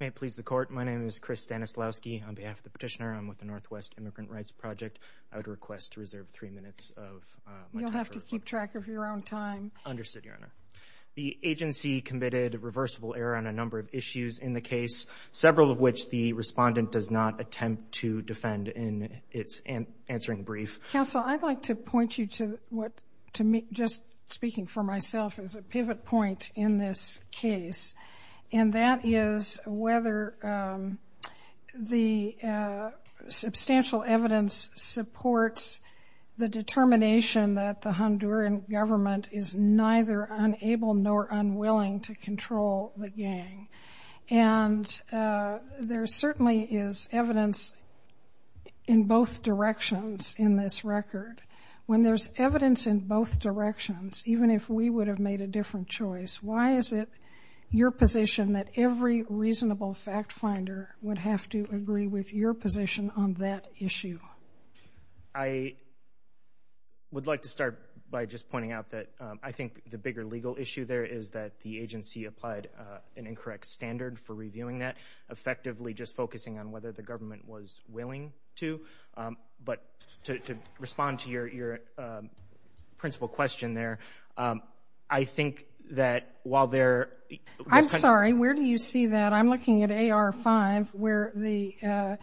May it please the court, my name is Chris Stanislavski. On behalf of the petitioner, I'm with the Northwest Immigrant Rights Project. I would request to reserve three minutes of my time. You'll have to keep track of your own time. Understood, Your Honor. The agency committed a reversible error on a number of issues in the case, several of which the respondent does not attempt to defend in its answering brief. Counsel, I'd like to point you to what, just speaking for myself, is a pivot point in this case. And that is whether the substantial evidence supports the determination that the Honduran government is neither unable nor unwilling to control the gang. And there certainly is evidence in both directions in this record. When there's evidence in both directions, even if we would have made a different choice, why is it your position that every reasonable fact finder would have to agree with your position on that issue? I would like to start by just pointing out that I think the bigger legal issue there is that the agency applied an incorrect standard for reviewing that, effectively just focusing on whether the government was willing to. But to respond to your principal question there, I think that while there is kind of- I'm sorry, where do you see that? I'm looking at AR-5 where the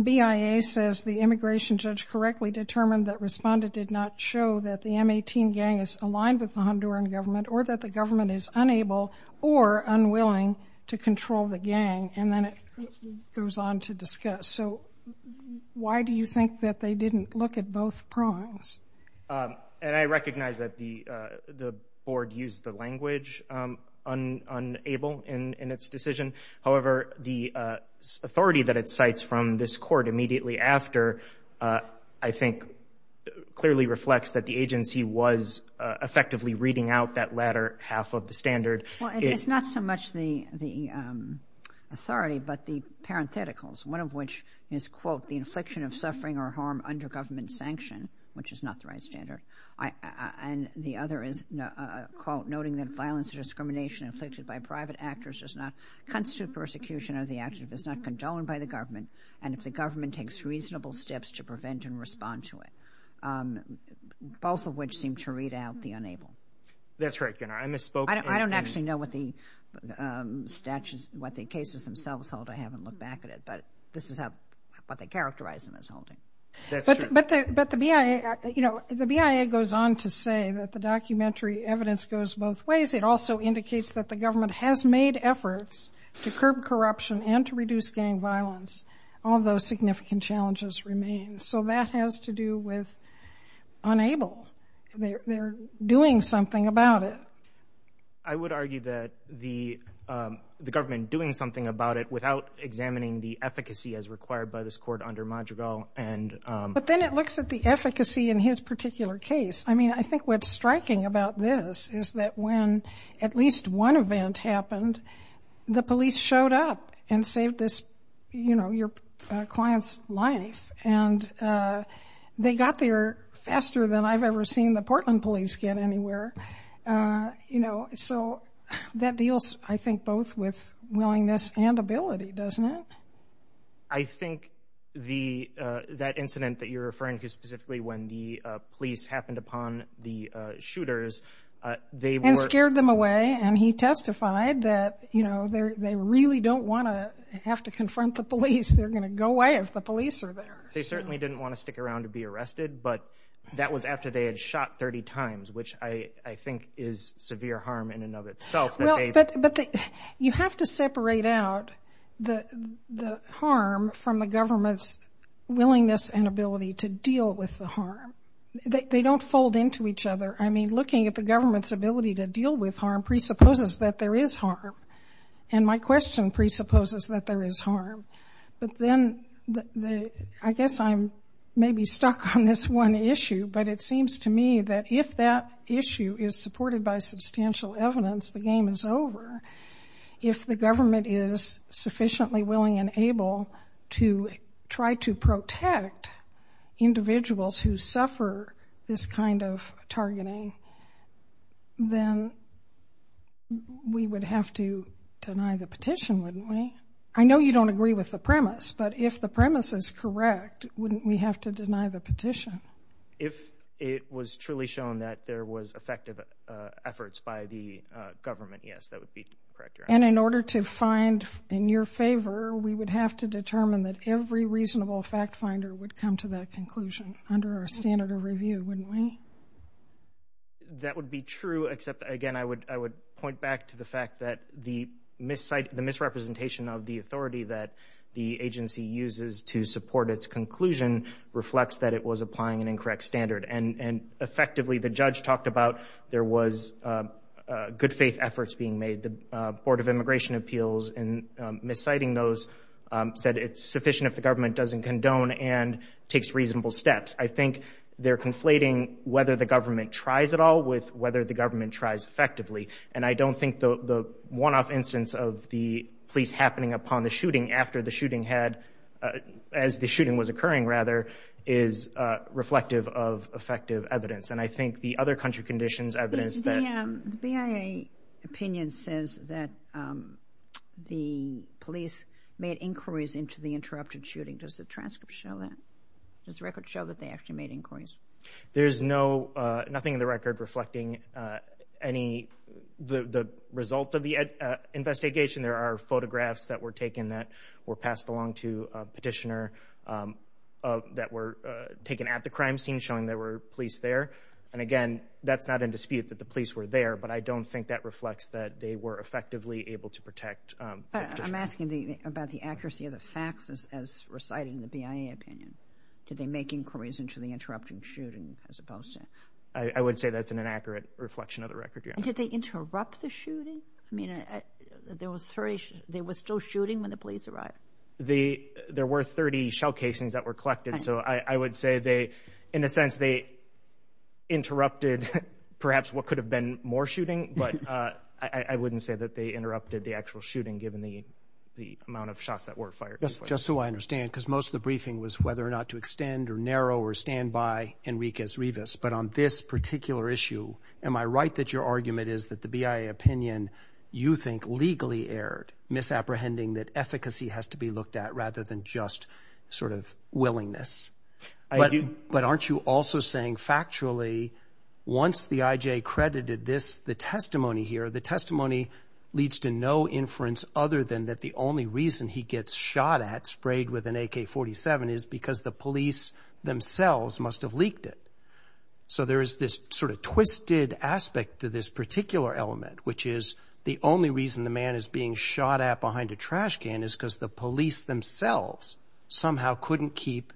BIA says the immigration judge correctly determined that respondent did not show that the M-18 gang is aligned with the Honduran government or that the government is unable or unwilling to control the gang, and then it goes on to discuss. So why do you think that they didn't look at both prongs? And I recognize that the board used the language, unable, in its decision. However, the authority that it cites from this court immediately after, I think, clearly reflects that the agency was effectively reading out that latter half of the standard. Well, it's not so much the authority but the parentheticals, one of which is, quote, the infliction of suffering or harm under government sanction, which is not the right standard, and the other is, quote, noting that violence or discrimination inflicted by private actors does not constitute persecution or the act is not condoned by the government, and if the government takes reasonable steps to prevent and respond to it, both of which seem to read out the unable. That's right, Gunnar. I misspoke. I don't actually know what the cases themselves hold. I haven't looked back at it. But this is what they characterized in this holding. That's true. But the BIA goes on to say that the documentary evidence goes both ways. It also indicates that the government has made efforts to curb corruption and to reduce gang violence, although significant challenges remain. So that has to do with unable. They're doing something about it. I would argue that the government doing something about it without examining the efficacy as required by this court under Madrigal. But then it looks at the efficacy in his particular case. I mean, I think what's striking about this is that when at least one event happened, the police showed up and saved this client's life, and they got there faster than I've ever seen the Portland police get anywhere. So that deals, I think, both with willingness and ability, doesn't it? I think that incident that you're referring to, specifically when the police happened upon the shooters, they were ---- And scared them away, and he testified that, you know, they really don't want to have to confront the police. They're going to go away if the police are there. They certainly didn't want to stick around to be arrested, but that was after they had shot 30 times, which I think is severe harm in and of itself. But you have to separate out the harm from the government's willingness and ability to deal with the harm. They don't fold into each other. I mean, looking at the government's ability to deal with harm presupposes that there is harm. And my question presupposes that there is harm. But then I guess I'm maybe stuck on this one issue, but it seems to me that if that issue is supported by substantial evidence, the game is over. If the government is sufficiently willing and able to try to protect individuals who suffer this kind of targeting, then we would have to deny the petition, wouldn't we? I know you don't agree with the premise, but if the premise is correct, wouldn't we have to deny the petition? If it was truly shown that there was effective efforts by the government, yes, that would be correct. And in order to find in your favor, we would have to determine that every reasonable fact finder would come to that conclusion under our standard of review, wouldn't we? That would be true, except, again, I would point back to the fact that the misrepresentation of the authority that the agency uses to support its conclusion reflects that it was applying an incorrect standard. And effectively, the judge talked about there was good faith efforts being made. The Board of Immigration Appeals, in misciting those, said it's sufficient if the government doesn't condone and takes reasonable steps. I think they're conflating whether the government tries at all with whether the government tries effectively. And I don't think the one-off instance of the police happening upon the shooting after the shooting had, as the shooting was occurring, rather, is reflective of effective evidence. And I think the other country conditions evidence that... The BIA opinion says that the police made inquiries into the interrupted shooting. Does the transcript show that? Does the record show that they actually made inquiries? There's nothing in the record reflecting the result of the investigation. There are photographs that were taken that were passed along to a petitioner that were taken at the crime scene showing there were police there. And, again, that's not in dispute that the police were there, but I don't think that reflects that they were effectively able to protect the petitioner. I'm asking about the accuracy of the facts as recited in the BIA opinion. Did they make inquiries into the interrupted shooting as opposed to... I would say that's an inaccurate reflection of the record, Your Honor. And did they interrupt the shooting? I mean, there was still shooting when the police arrived? There were 30 shell casings that were collected. So I would say, in a sense, they interrupted perhaps what could have been more shooting, but I wouldn't say that they interrupted the actual shooting given the amount of shots that were fired. Just so I understand, because most of the briefing was whether or not to extend or narrow or stand by Enriquez-Rivas, but on this particular issue, am I right that your argument is that the BIA opinion, you think, legally erred, misapprehending that efficacy has to be looked at rather than just sort of willingness? I do. But aren't you also saying, factually, once the I.J. credited the testimony here, the testimony leads to no inference other than that the only reason he gets shot at, sprayed with an AK-47, is because the police themselves must have leaked it. So there is this sort of twisted aspect to this particular element, which is the only reason the man is being shot at behind a trash can is because the police themselves somehow couldn't keep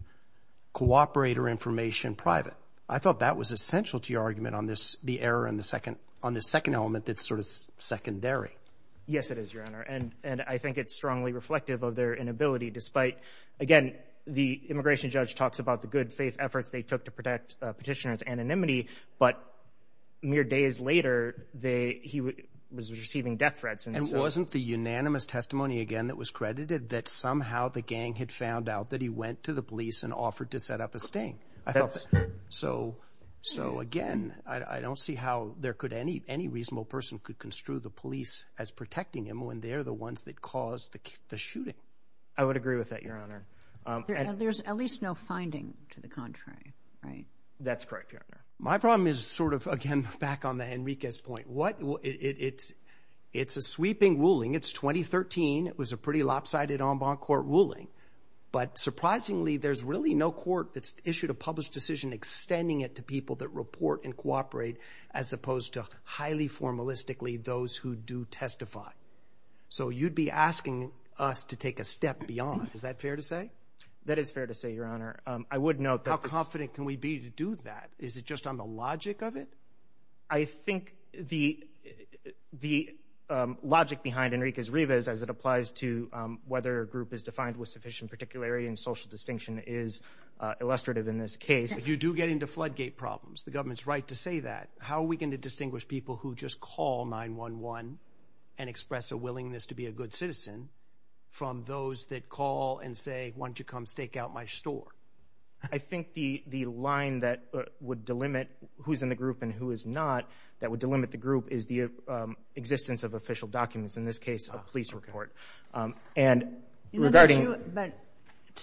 cooperator information private. I thought that was essential to your argument on the error on the second element that's sort of secondary. Yes, it is, Your Honor, and I think it's strongly reflective of their inability, despite, again, the immigration judge talks about the good faith efforts they took to protect petitioners' anonymity, but mere days later, he was receiving death threats. And wasn't the unanimous testimony, again, that was credited that somehow the gang had found out that he went to the police and offered to set up a sting? I felt that. So, again, I don't see how there could any reasonable person could construe the police as protecting him when they're the ones that caused the shooting. I would agree with that, Your Honor. And there's at least no finding to the contrary, right? That's correct, Your Honor. My problem is sort of, again, back on the Henriquez point. It's a sweeping ruling. It's 2013. It was a pretty lopsided en banc court ruling. But, surprisingly, there's really no court that's issued a published decision extending it to people that report and cooperate as opposed to highly formalistically those who do testify. So you'd be asking us to take a step beyond. Is that fair to say? That is fair to say, Your Honor. I would note that. How confident can we be to do that? Is it just on the logic of it? I think the logic behind Henriquez-Rivas as it applies to whether a group is defined with sufficient particularity and social distinction is illustrative in this case. If you do get into floodgate problems, the government's right to say that. How are we going to distinguish people who just call 911 and express a willingness to be a good citizen from those that call and say, why don't you come stake out my store? I think the line that would delimit who's in the group and who is not, that would delimit the group is the existence of official documents, in this case, a police report. But to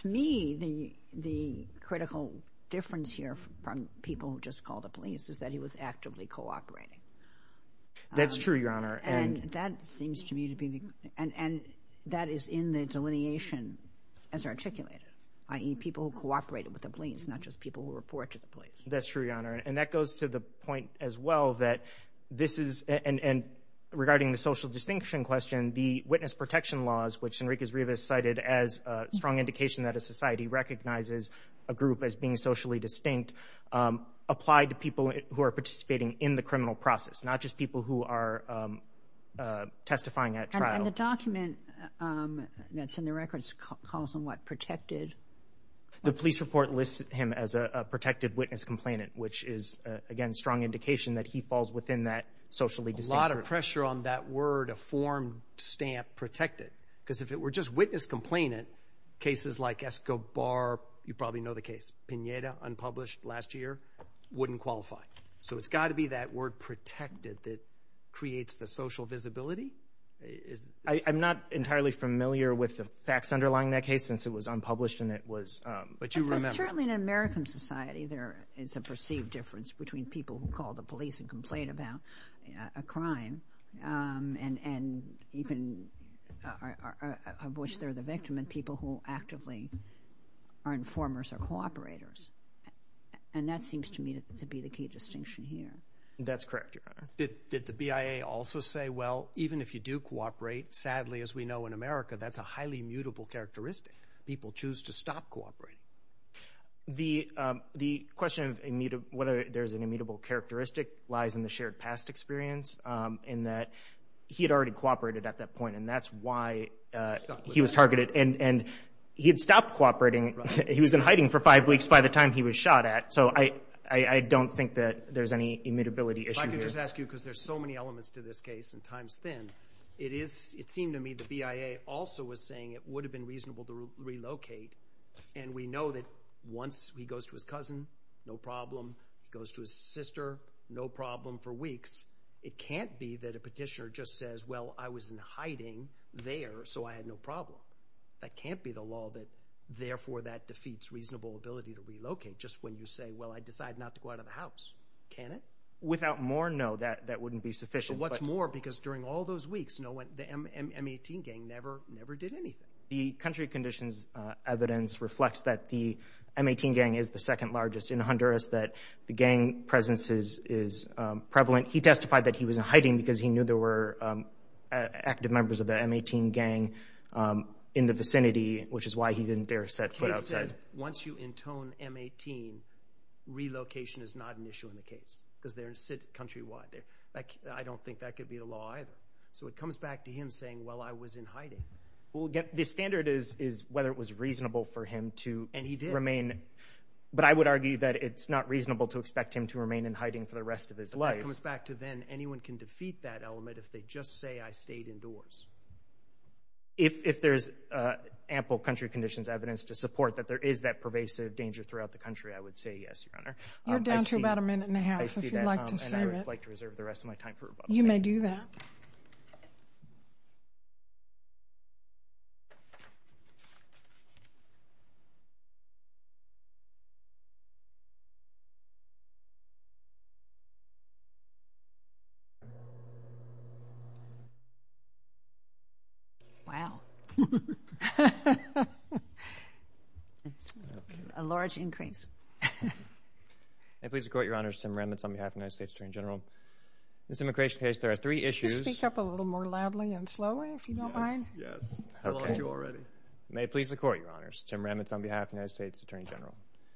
me, the critical difference here from people who just call the police is that he was actively cooperating. That's true, Your Honor. And that is in the delineation as articulated, i.e., people who cooperated with the police, not just people who report to the police. That's true, Your Honor. And that goes to the point as well that this is, and regarding the social distinction question, the witness protection laws, which Henriquez-Rivas cited as a strong indication that a society recognizes a group as being socially distinct, apply to people who are participating in the criminal process, not just people who are testifying at trial. And the document that's in the records calls them, what, protected? The police report lists him as a protected witness complainant, which is, again, a strong indication that he falls within that socially distinct group. A lot of pressure on that word, a form stamp, protected, because if it were just witness complainant, cases like Escobar, you probably know the case, Pineda, unpublished last year, wouldn't qualify. So it's got to be that word, protected, that creates the social visibility? I'm not entirely familiar with the facts underlying that case, since it was unpublished and it was, but you remember. Certainly in an American society, there is a perceived difference between people who call the police and complain about a crime, and even of which they're the victim, and people who actively are informers or cooperators. And that seems to me to be the key distinction here. That's correct, Your Honor. Did the BIA also say, well, even if you do cooperate, sadly, as we know in America, that's a highly immutable characteristic. People choose to stop cooperating. The question of whether there's an immutable characteristic lies in the shared past experience, in that he had already cooperated at that point, and that's why he was targeted. And he had stopped cooperating. He was in hiding for five weeks by the time he was shot at. So I don't think that there's any immutability issue here. If I could just ask you, because there's so many elements to this case and time's thin, it seemed to me the BIA also was saying it would have been reasonable to relocate. And we know that once he goes to his cousin, no problem. He goes to his sister, no problem for weeks. It can't be that a petitioner just says, well, I was in hiding there, so I had no problem. That can't be the law that, therefore, that defeats reasonable ability to relocate, just when you say, well, I decide not to go out of the house. Can it? Without more, no, that wouldn't be sufficient. But what's more, because during all those weeks, the M18 gang never did anything. The country conditions evidence reflects that the M18 gang is the second largest in Honduras, that the gang presence is prevalent. He testified that he was in hiding because he knew there were active members of the M18 gang in the vicinity, which is why he didn't dare set foot outside. He said once you intone M18, relocation is not an issue in the case because they're countrywide. I don't think that could be the law either. So it comes back to him saying, well, I was in hiding. The standard is whether it was reasonable for him to remain. And he did. But I would argue that it's not reasonable to expect him to remain in hiding for the rest of his life. It comes back to then anyone can defeat that element if they just say I stayed indoors. If there's ample country conditions evidence to support that there is that pervasive danger throughout the country, I would say yes, Your Honor. You're down to about a minute and a half, if you'd like to save it. I see that, and I would like to reserve the rest of my time for rebuttal. You may do that. Wow. A large increase. May it please the Court, Your Honors. Tim Remitz on behalf of the United States Attorney General. This immigration case, there are three issues. Could you speak up a little more loudly and slowly, if you don't mind? Yes. I lost you already. May it please the Court, Your Honors. Tim Remitz on behalf of the United States Attorney General.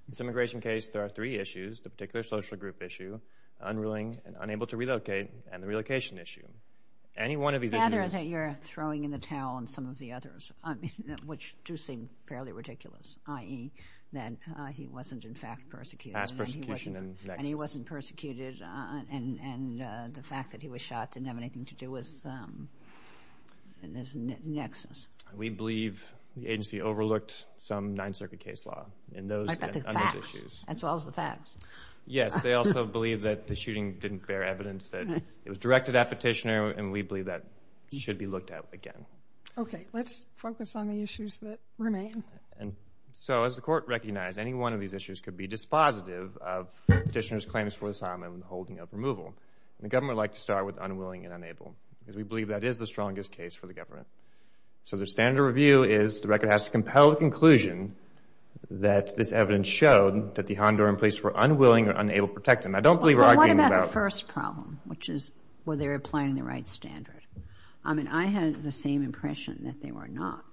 This immigration case, there are three issues. The particular social group issue, unruling and unable to relocate, and the relocation issue. Any one of these issues Rather that you're throwing in the towel on some of the others, which do seem fairly ridiculous, i.e. that he wasn't, in fact, persecuted. Past persecution and nexus. And he wasn't persecuted, and the fact that he was shot didn't have anything to do with this nexus. We believe the agency overlooked some Ninth Circuit case law in those issues. As well as the facts. Yes. They also believe that the shooting didn't bear evidence that it was directed at petitioner, and we believe that should be looked at again. Okay. Let's focus on the issues that remain. So, as the Court recognized, any one of these issues could be dispositive of petitioner's claims for asylum and holding of removal. The government would like to start with unwilling and unable, because we believe that is the strongest case for the government. So the standard of review is the record has to compel the conclusion that this evidence showed that the Honduran police were unwilling or unable to protect him. I don't believe we're arguing about that. But what about the first problem, which is, were they applying the right standard? I mean, I had the same impression that they were not.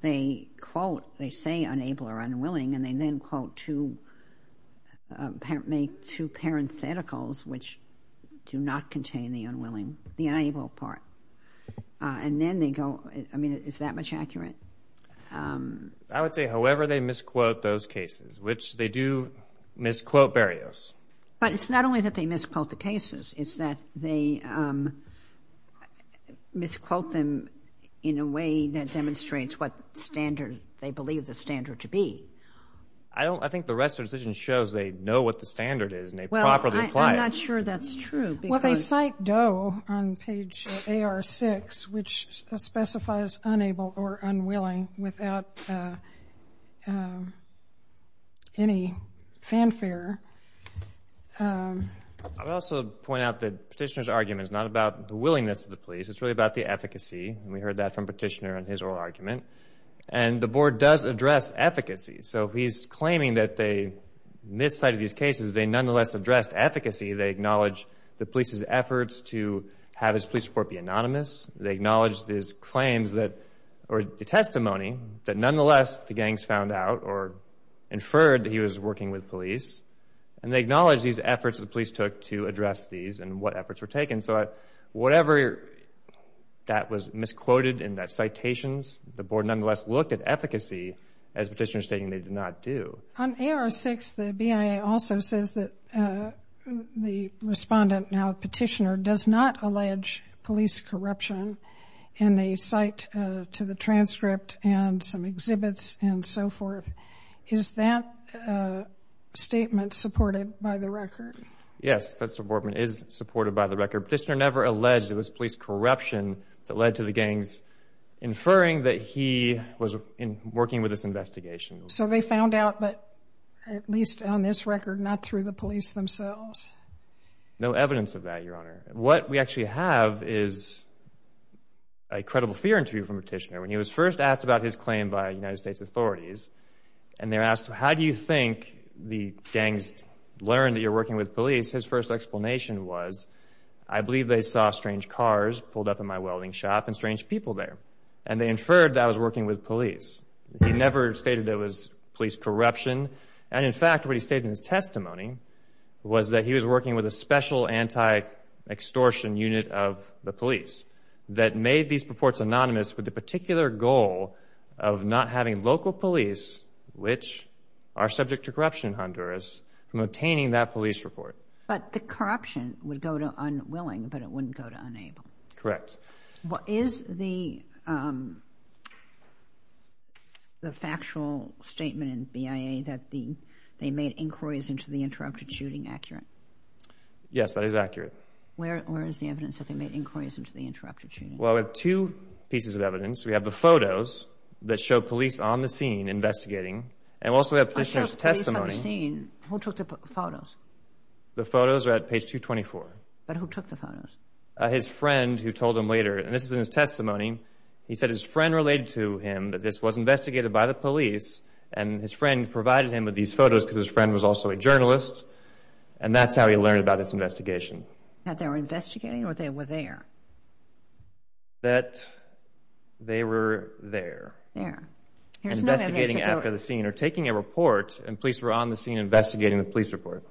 They quote, they say unable or unwilling, and they then quote two, make two parentheticals, which do not contain the unwilling, the unable part. And then they go, I mean, is that much accurate? I would say however they misquote those cases, which they do misquote Berrios. But it's not only that they misquote the cases. It's that they misquote them in a way that demonstrates what standard they believe the standard to be. I think the rest of the decision shows they know what the standard is and they properly apply it. Well, I'm not sure that's true. Well, they cite Doe on page AR6, which specifies unable or unwilling without any fanfare. I would also point out that Petitioner's argument is not about the willingness of the police. It's really about the efficacy, and we heard that from Petitioner in his oral argument. And the Board does address efficacy. So if he's claiming that they miscited these cases, they nonetheless addressed efficacy. They acknowledge the police's efforts to have his police report be anonymous. They acknowledge his claims or testimony that nonetheless the gangs found out or inferred that he was working with police. And they acknowledge these efforts the police took to address these and what efforts were taken. So whatever that was misquoted in that citation, the Board nonetheless looked at efficacy, as Petitioner's stating they did not do. On AR6, the BIA also says that the respondent, now Petitioner, does not allege police corruption in a cite to the transcript and some exhibits and so forth. Is that statement supported by the record? Yes, that statement is supported by the record. Petitioner never alleged it was police corruption that led to the gangs inferring that he was working with this investigation. So they found out, but at least on this record, not through the police themselves? No evidence of that, Your Honor. What we actually have is a credible fear interview from Petitioner. When he was first asked about his claim by United States authorities, and they were asked, how do you think the gangs learned that you were working with police, his first explanation was, I believe they saw strange cars pulled up in my welding shop and strange people there, and they inferred that I was working with police. He never stated that it was police corruption. And, in fact, what he stated in his testimony was that he was working with a special anti-extortion unit of the police that made these reports anonymous with the particular goal of not having local police, which are subject to corruption in Honduras, from obtaining that police report. But the corruption would go to unwilling, but it wouldn't go to unable. Correct. Is the factual statement in BIA that they made inquiries into the interrupted shooting accurate? Yes, that is accurate. Where is the evidence that they made inquiries into the interrupted shooting? Well, we have two pieces of evidence. We have the photos that show police on the scene investigating, and we also have Petitioner's testimony. Who took the photos? But who took the photos? His friend, who told him later, and this is in his testimony. He said his friend related to him that this was investigated by the police, and his friend provided him with these photos because his friend was also a journalist, and that's how he learned about this investigation. That they were investigating or they were there? That they were there. There. Investigating after the scene or taking a report, and police were on the scene investigating the police report.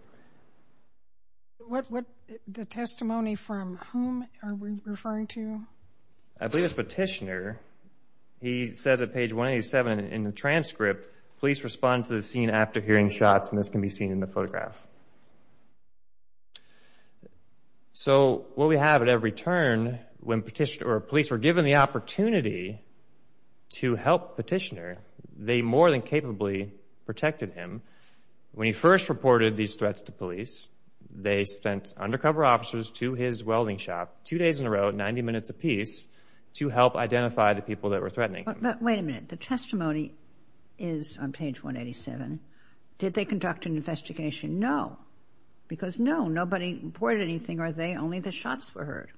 The testimony from whom are we referring to? I believe it's Petitioner. He says at page 187 in the transcript, police respond to the scene after hearing shots, and this can be seen in the photograph. So what we have at every turn, when police were given the opportunity to help Petitioner, they more than capably protected him. When he first reported these threats to police, they sent undercover officers to his welding shop two days in a row, 90 minutes apiece, to help identify the people that were threatening him. But wait a minute. The testimony is on page 187. Did they conduct an investigation? No, because no, nobody reported anything. Are they only the shots were heard?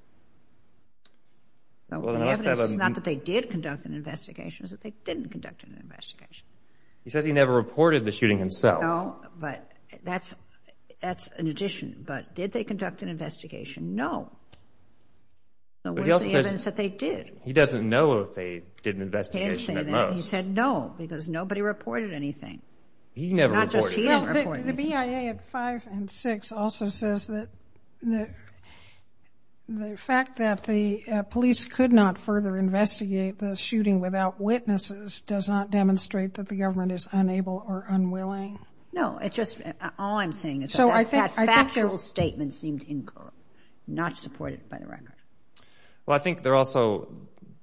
The evidence is not that they did conduct an investigation. It's that they didn't conduct an investigation. He says he never reported the shooting himself. No, but that's an addition. But did they conduct an investigation? No. But he also says that they did. He doesn't know if they did an investigation at most. He said no, because nobody reported anything. He never reported anything. The BIA at five and six also says that the fact that the police could not further investigate the shooting without witnesses does not demonstrate that the government is unable or unwilling. No, it's just all I'm saying is that that factual statement seemed incorrect, not supported by the record. Well, I think there also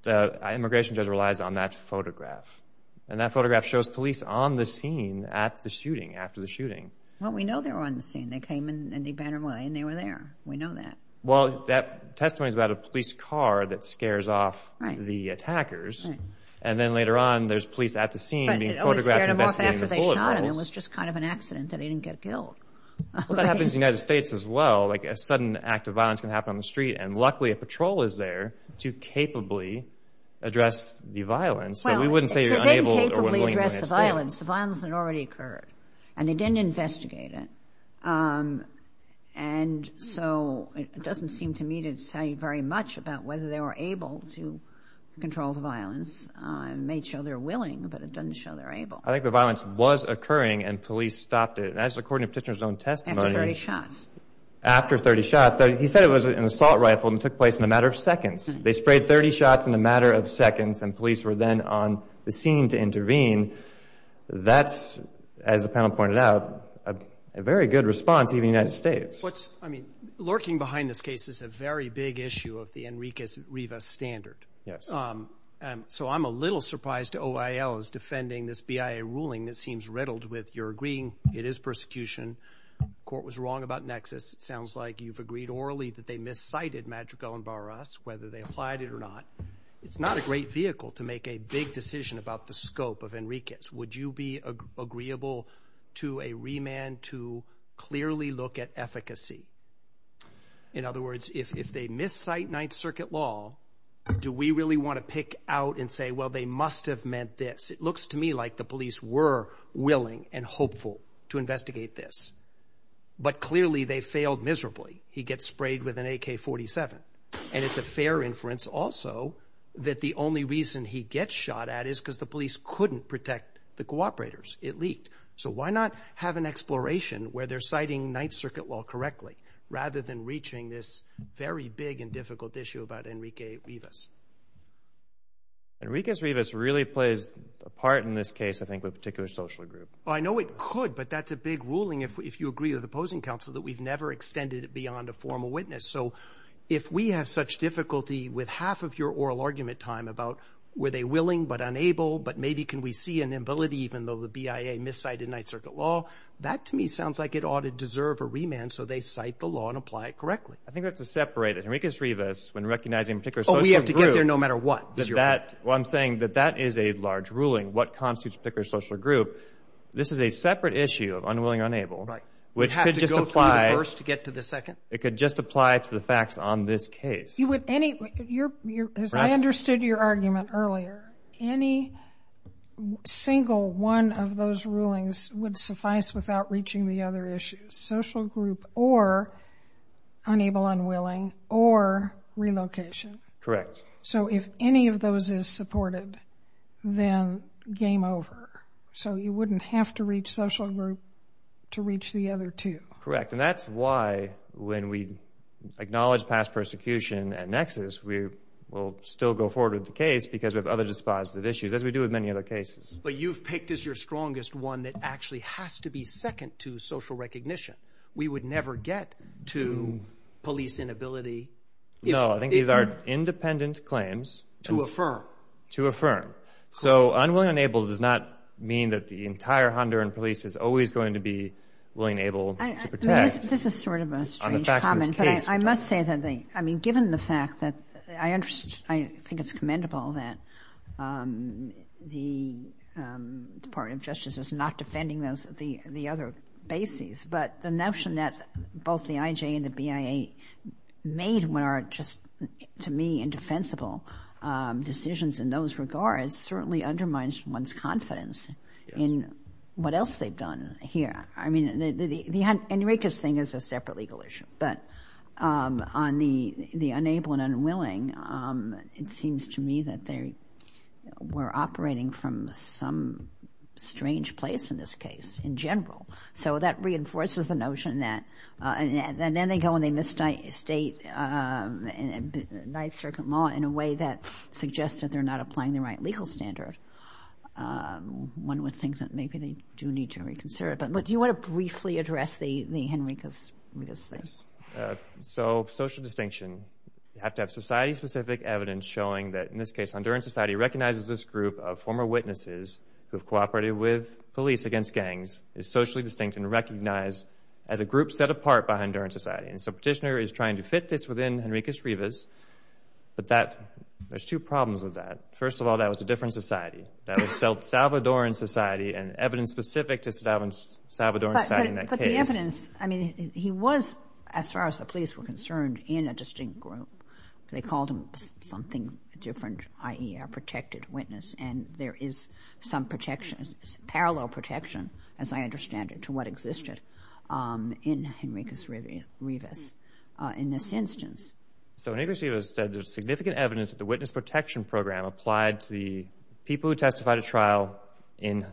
the immigration judge relies on that photograph, and that photograph shows police on the scene at the shooting, after the shooting. Well, we know they were on the scene. They came and they bantered away, and they were there. We know that. Well, that testimony is about a police car that scares off the attackers, and then later on there's police at the scene being photographed investigating the bullet holes. But it always scared them off after they shot him. It was just kind of an accident that he didn't get killed. Well, that happens in the United States as well. Like a sudden act of violence can happen on the street, and luckily a patrol is there to capably address the violence. Well, they didn't capably address the violence. The violence had already occurred, and they didn't investigate it. And so it doesn't seem to me to tell you very much about whether they were able to control the violence. It may show they're willing, but it doesn't show they're able. I think the violence was occurring, and police stopped it. And that's according to Petitioner's own testimony. After 30 shots. After 30 shots. He said it was an assault rifle, and it took place in a matter of seconds. They sprayed 30 shots in a matter of seconds, and police were then on the scene to intervene. That's, as the panel pointed out, a very good response even in the United States. I mean, lurking behind this case is a very big issue of the Enriquez-Rivas standard. Yes. So I'm a little surprised OIL is defending this BIA ruling that seems riddled with, you're agreeing it is persecution, the court was wrong about Nexus. It sounds like you've agreed orally that they miscited Madrigal and Barras, whether they applied it or not. It's not a great vehicle to make a big decision about the scope of Enriquez. Would you be agreeable to a remand to clearly look at efficacy? In other words, if they miscite Ninth Circuit law, do we really want to pick out and say, well, they must have meant this? It looks to me like the police were willing and hopeful to investigate this. But clearly they failed miserably. He gets sprayed with an AK-47. And it's a fair inference also that the only reason he gets shot at is because the police couldn't protect the cooperators. It leaked. So why not have an exploration where they're citing Ninth Circuit law correctly rather than reaching this very big and difficult issue about Enriquez-Rivas? Enriquez-Rivas really plays a part in this case, I think, with a particular social group. I know it could, but that's a big ruling if you agree with opposing counsel, that we've never extended it beyond a formal witness. So if we have such difficulty with half of your oral argument time about were they willing but unable, but maybe can we see an ability even though the BIA miscited Ninth Circuit law, that to me sounds like it ought to deserve a remand so they cite the law and apply it correctly. I think we have to separate Enriquez-Rivas when recognizing a particular social group. Oh, we have to get there no matter what. Well, I'm saying that that is a large ruling, what constitutes a particular social group. This is a separate issue of unwilling or unable, which could just apply. You have to go through the first to get to the second? It could just apply to the facts on this case. As I understood your argument earlier, any single one of those rulings would suffice without reaching the other issues, social group or unable, unwilling, or relocation. Correct. So if any of those is supported, then game over. So you wouldn't have to reach social group to reach the other two. Correct, and that's why when we acknowledge past persecution and nexus, we will still go forward with the case because we have other dispositive issues, as we do with many other cases. But you've picked as your strongest one that actually has to be second to social recognition. We would never get to police inability. No, I think these are independent claims. To affirm. To affirm. So unwilling or unable does not mean that the entire Honduran police is always going to be willing and able to protect on the facts of this case. This is sort of a strange comment, but I must say that given the fact that I think it's commendable that the Department of Justice is not defending the other bases, but the notion that both the IJ and the BIA made what are just, to me, indefensible decisions in those regards certainly undermines one's confidence in what else they've done here. I mean, the Enriquez thing is a separate legal issue. But on the unable and unwilling, it seems to me that they were operating from some strange place, in this case, in general. So that reinforces the notion that then they go and they misstate Ninth Circuit law in a way that suggests that they're not applying the right legal standard. One would think that maybe they do need to reconsider it. But do you want to briefly address the Enriquez thing? So social distinction. You have to have society-specific evidence showing that, in this case, Honduran society recognizes this group of former witnesses who have cooperated with police against gangs, is socially distinct and recognized as a group set apart by Honduran society. And so Petitioner is trying to fit this within Enriquez-Rivas. But there's two problems with that. First of all, that was a different society. That was Salvadoran society and evidence specific to Salvadoran society in that case. But the evidence, I mean, he was, as far as the police were concerned, in a distinct group. They called him something different, i.e., a protected witness. And there is some protection, parallel protection, as I understand it, to what existed in Enriquez-Rivas in this instance. So Enriquez-Rivas said there's significant evidence that the witness protection program applied to the people who testified at trial in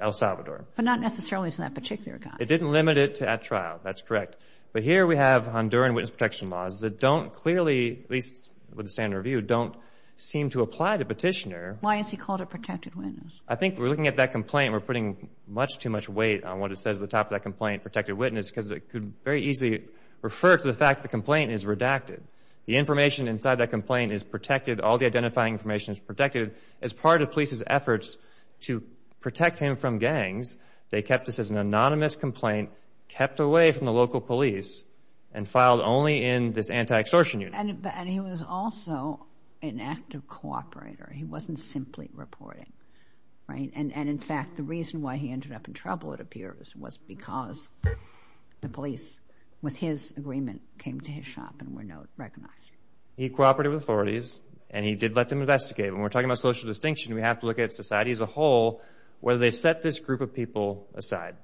El Salvador. But not necessarily to that particular guy. It didn't limit it at trial. That's correct. But here we have Honduran witness protection laws that don't clearly, at least with the standard review, don't seem to apply to Petitioner. Why is he called a protected witness? I think we're looking at that complaint and we're putting much too much weight on what it says at the top of that complaint, protected witness, because it could very easily refer to the fact the complaint is redacted. The information inside that complaint is protected. All the identifying information is protected. As part of police's efforts to protect him from gangs, they kept this as an anonymous complaint, kept away from the local police, and filed only in this anti-extortion unit. And he was also an active cooperator. He wasn't simply reporting, right? And, in fact, the reason why he ended up in trouble, it appears, was because the police, with his agreement, came to his shop and were not recognized. He cooperated with authorities and he did let them investigate. When we're talking about social distinction, we have to look at society as a whole, whether they set this group of people aside.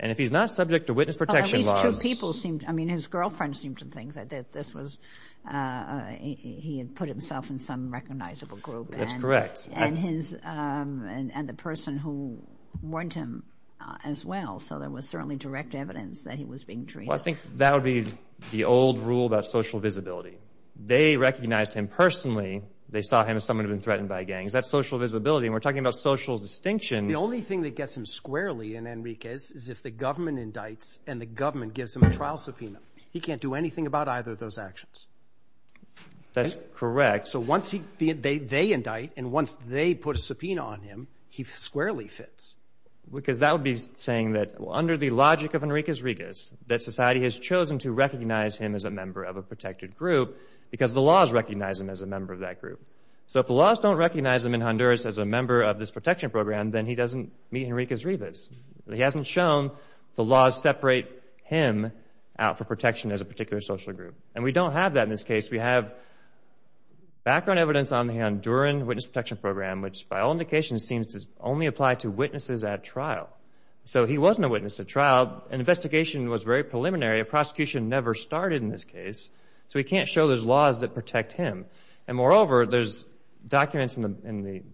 And if he's not subject to witness protection laws— Well, these two people seemed—I mean, his girlfriend seemed to think that this was— he had put himself in some recognizable group. That's correct. And the person who warned him as well. So there was certainly direct evidence that he was being treated. Well, I think that would be the old rule about social visibility. They recognized him personally. They saw him as someone who had been threatened by gangs. That's social visibility. And we're talking about social distinction. The only thing that gets him squarely in Enrique's is if the government indicts and the government gives him a trial subpoena. He can't do anything about either of those actions. That's correct. So once they indict and once they put a subpoena on him, he squarely fits. Because that would be saying that under the logic of Enrique's rigas, that society has chosen to recognize him as a member of a protected group because the laws recognize him as a member of that group. So if the laws don't recognize him in Honduras as a member of this protection program, then he doesn't meet Enrique's rigas. He hasn't shown the laws separate him out for protection as a particular social group. And we don't have that in this case. We have background evidence on the Honduran witness protection program, which by all indications seems to only apply to witnesses at trial. So he wasn't a witness at trial. An investigation was very preliminary. A prosecution never started in this case. So we can't show there's laws that protect him. And moreover, there's documents in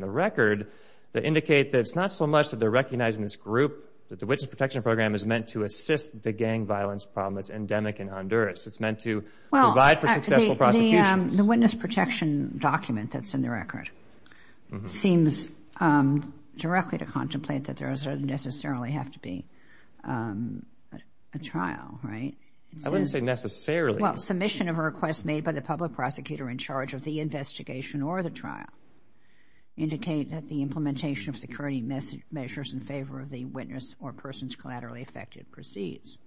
the record that indicate that it's not so much that they're recognizing this group, that the witness protection program is meant to assist the gang violence problem that's endemic in Honduras. It's meant to provide for successful prosecutions. Well, the witness protection document that's in the record seems directly to contemplate that there doesn't necessarily have to be a trial, right? I wouldn't say necessarily. Well, submission of a request made by the public prosecutor in charge of the investigation or the trial indicate that the implementation of security measures in favor of the witness or persons collaterally affected proceeds.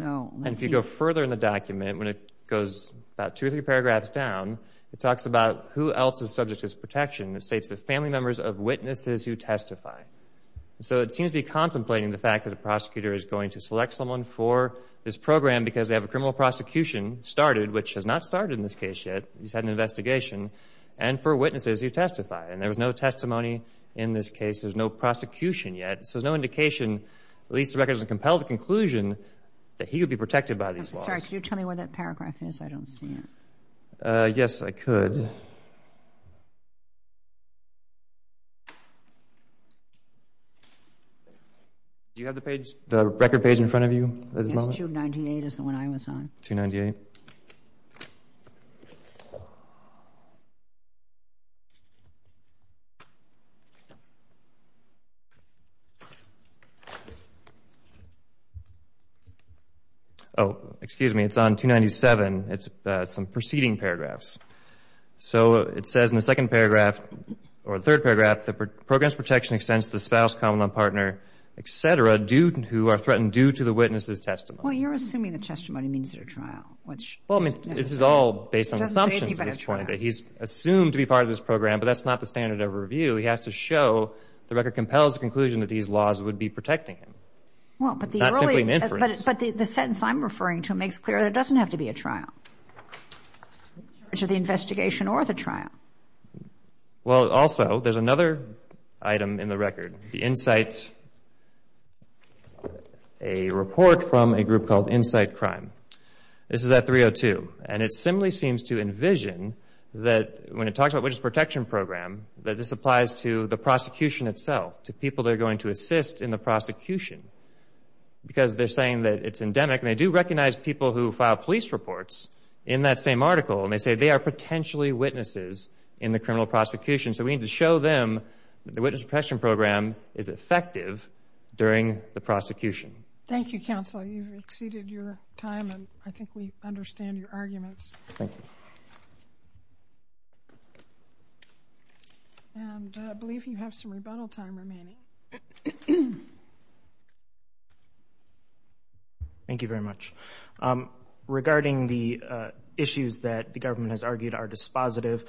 And if you go further in the document, when it goes about two or three paragraphs down, it talks about who else is subject to this protection. It states the family members of witnesses who testify. So it seems to be contemplating the fact that a prosecutor is going to select someone for this program because they have a criminal prosecution started, which has not started in this case yet. He's had an investigation, and for witnesses who testify. And there was no testimony in this case. There's no prosecution yet. So there's no indication, at least the record doesn't compel the conclusion, that he would be protected by these laws. I'm sorry. Could you tell me where that paragraph is? I don't see it. Yes, I could. Do you have the page, the record page in front of you at this moment? Yes, 298 is the one I was on. 298. Oh, excuse me. It's on 297. It's some preceding paragraphs. So it says in the second paragraph, or the third paragraph, the program's protection extends to the spouse, common-law partner, et cetera, who are threatened due to the witness's testimony. Well, you're assuming the testimony means at a trial. Well, I mean, this is all based on assumptions at this point, that he's assumed to be part of this program, but that's not the standard of review. He has to show the record compels the conclusion that these laws would be protecting him, not simply an inference. But the sentence I'm referring to makes clear that it doesn't have to be a trial, which is the investigation or the trial. Well, also, there's another item in the record, the Insight, a report from a group called Insight Crime. This is at 302. And it simply seems to envision that when it talks about witness protection program, that this applies to the prosecution itself, to people that are going to assist in the prosecution, because they're saying that it's endemic. And they do recognize people who file police reports in that same article, and they say they are potentially witnesses in the criminal prosecution. So we need to show them that the witness protection program is effective during the prosecution. Thank you, counsel. You've exceeded your time, and I think we understand your arguments. Thank you. And I believe you have some rebuttal time remaining. Thank you very much. Regarding the issues that the government has argued are dispositive,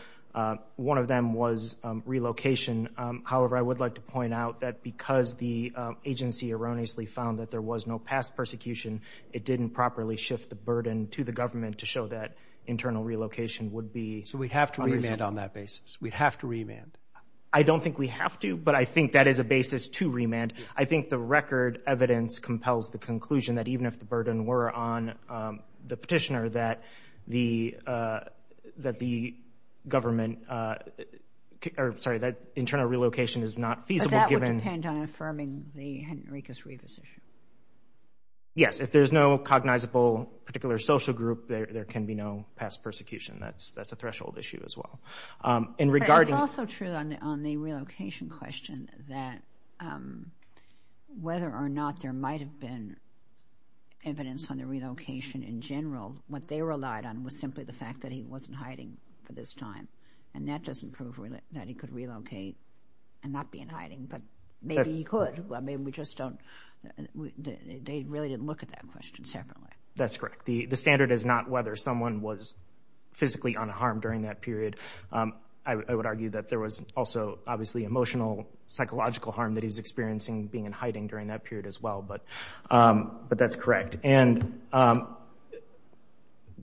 one of them was relocation. However, I would like to point out that because the agency erroneously found that there was no past persecution, it didn't properly shift the burden to the government to show that internal relocation would be unreasonable. So we'd have to remand on that basis? We'd have to remand? I don't think we have to, but I think that is a basis to remand. I think the record evidence compels the conclusion that even if the burden were on the Petitioner, that the internal relocation is not feasible given— But that would depend on affirming the Henricus Rivas issue. Yes. If there's no cognizable particular social group, there can be no past persecution. That's a threshold issue as well. It's also true on the relocation question that whether or not there might have been evidence on the relocation in general, what they relied on was simply the fact that he wasn't hiding for this time. And that doesn't prove that he could relocate and not be in hiding, but maybe he could. I mean, we just don't—they really didn't look at that question separately. That's correct. The standard is not whether someone was physically unharmed during that period. I would argue that there was also obviously emotional, psychological harm that he was experiencing being in hiding during that period as well, but that's correct. And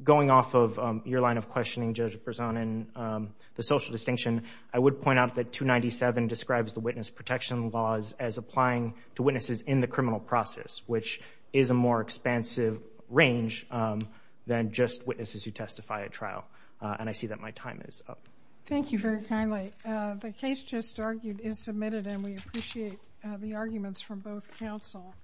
going off of your line of questioning, Judge Berzon, and the social distinction, I would point out that 297 describes the witness protection laws as applying to witnesses in the criminal process, which is a more expansive range than just witnesses who testify at trial. And I see that my time is up. Thank you very kindly. The case just argued is submitted, and we appreciate the arguments from both counsel.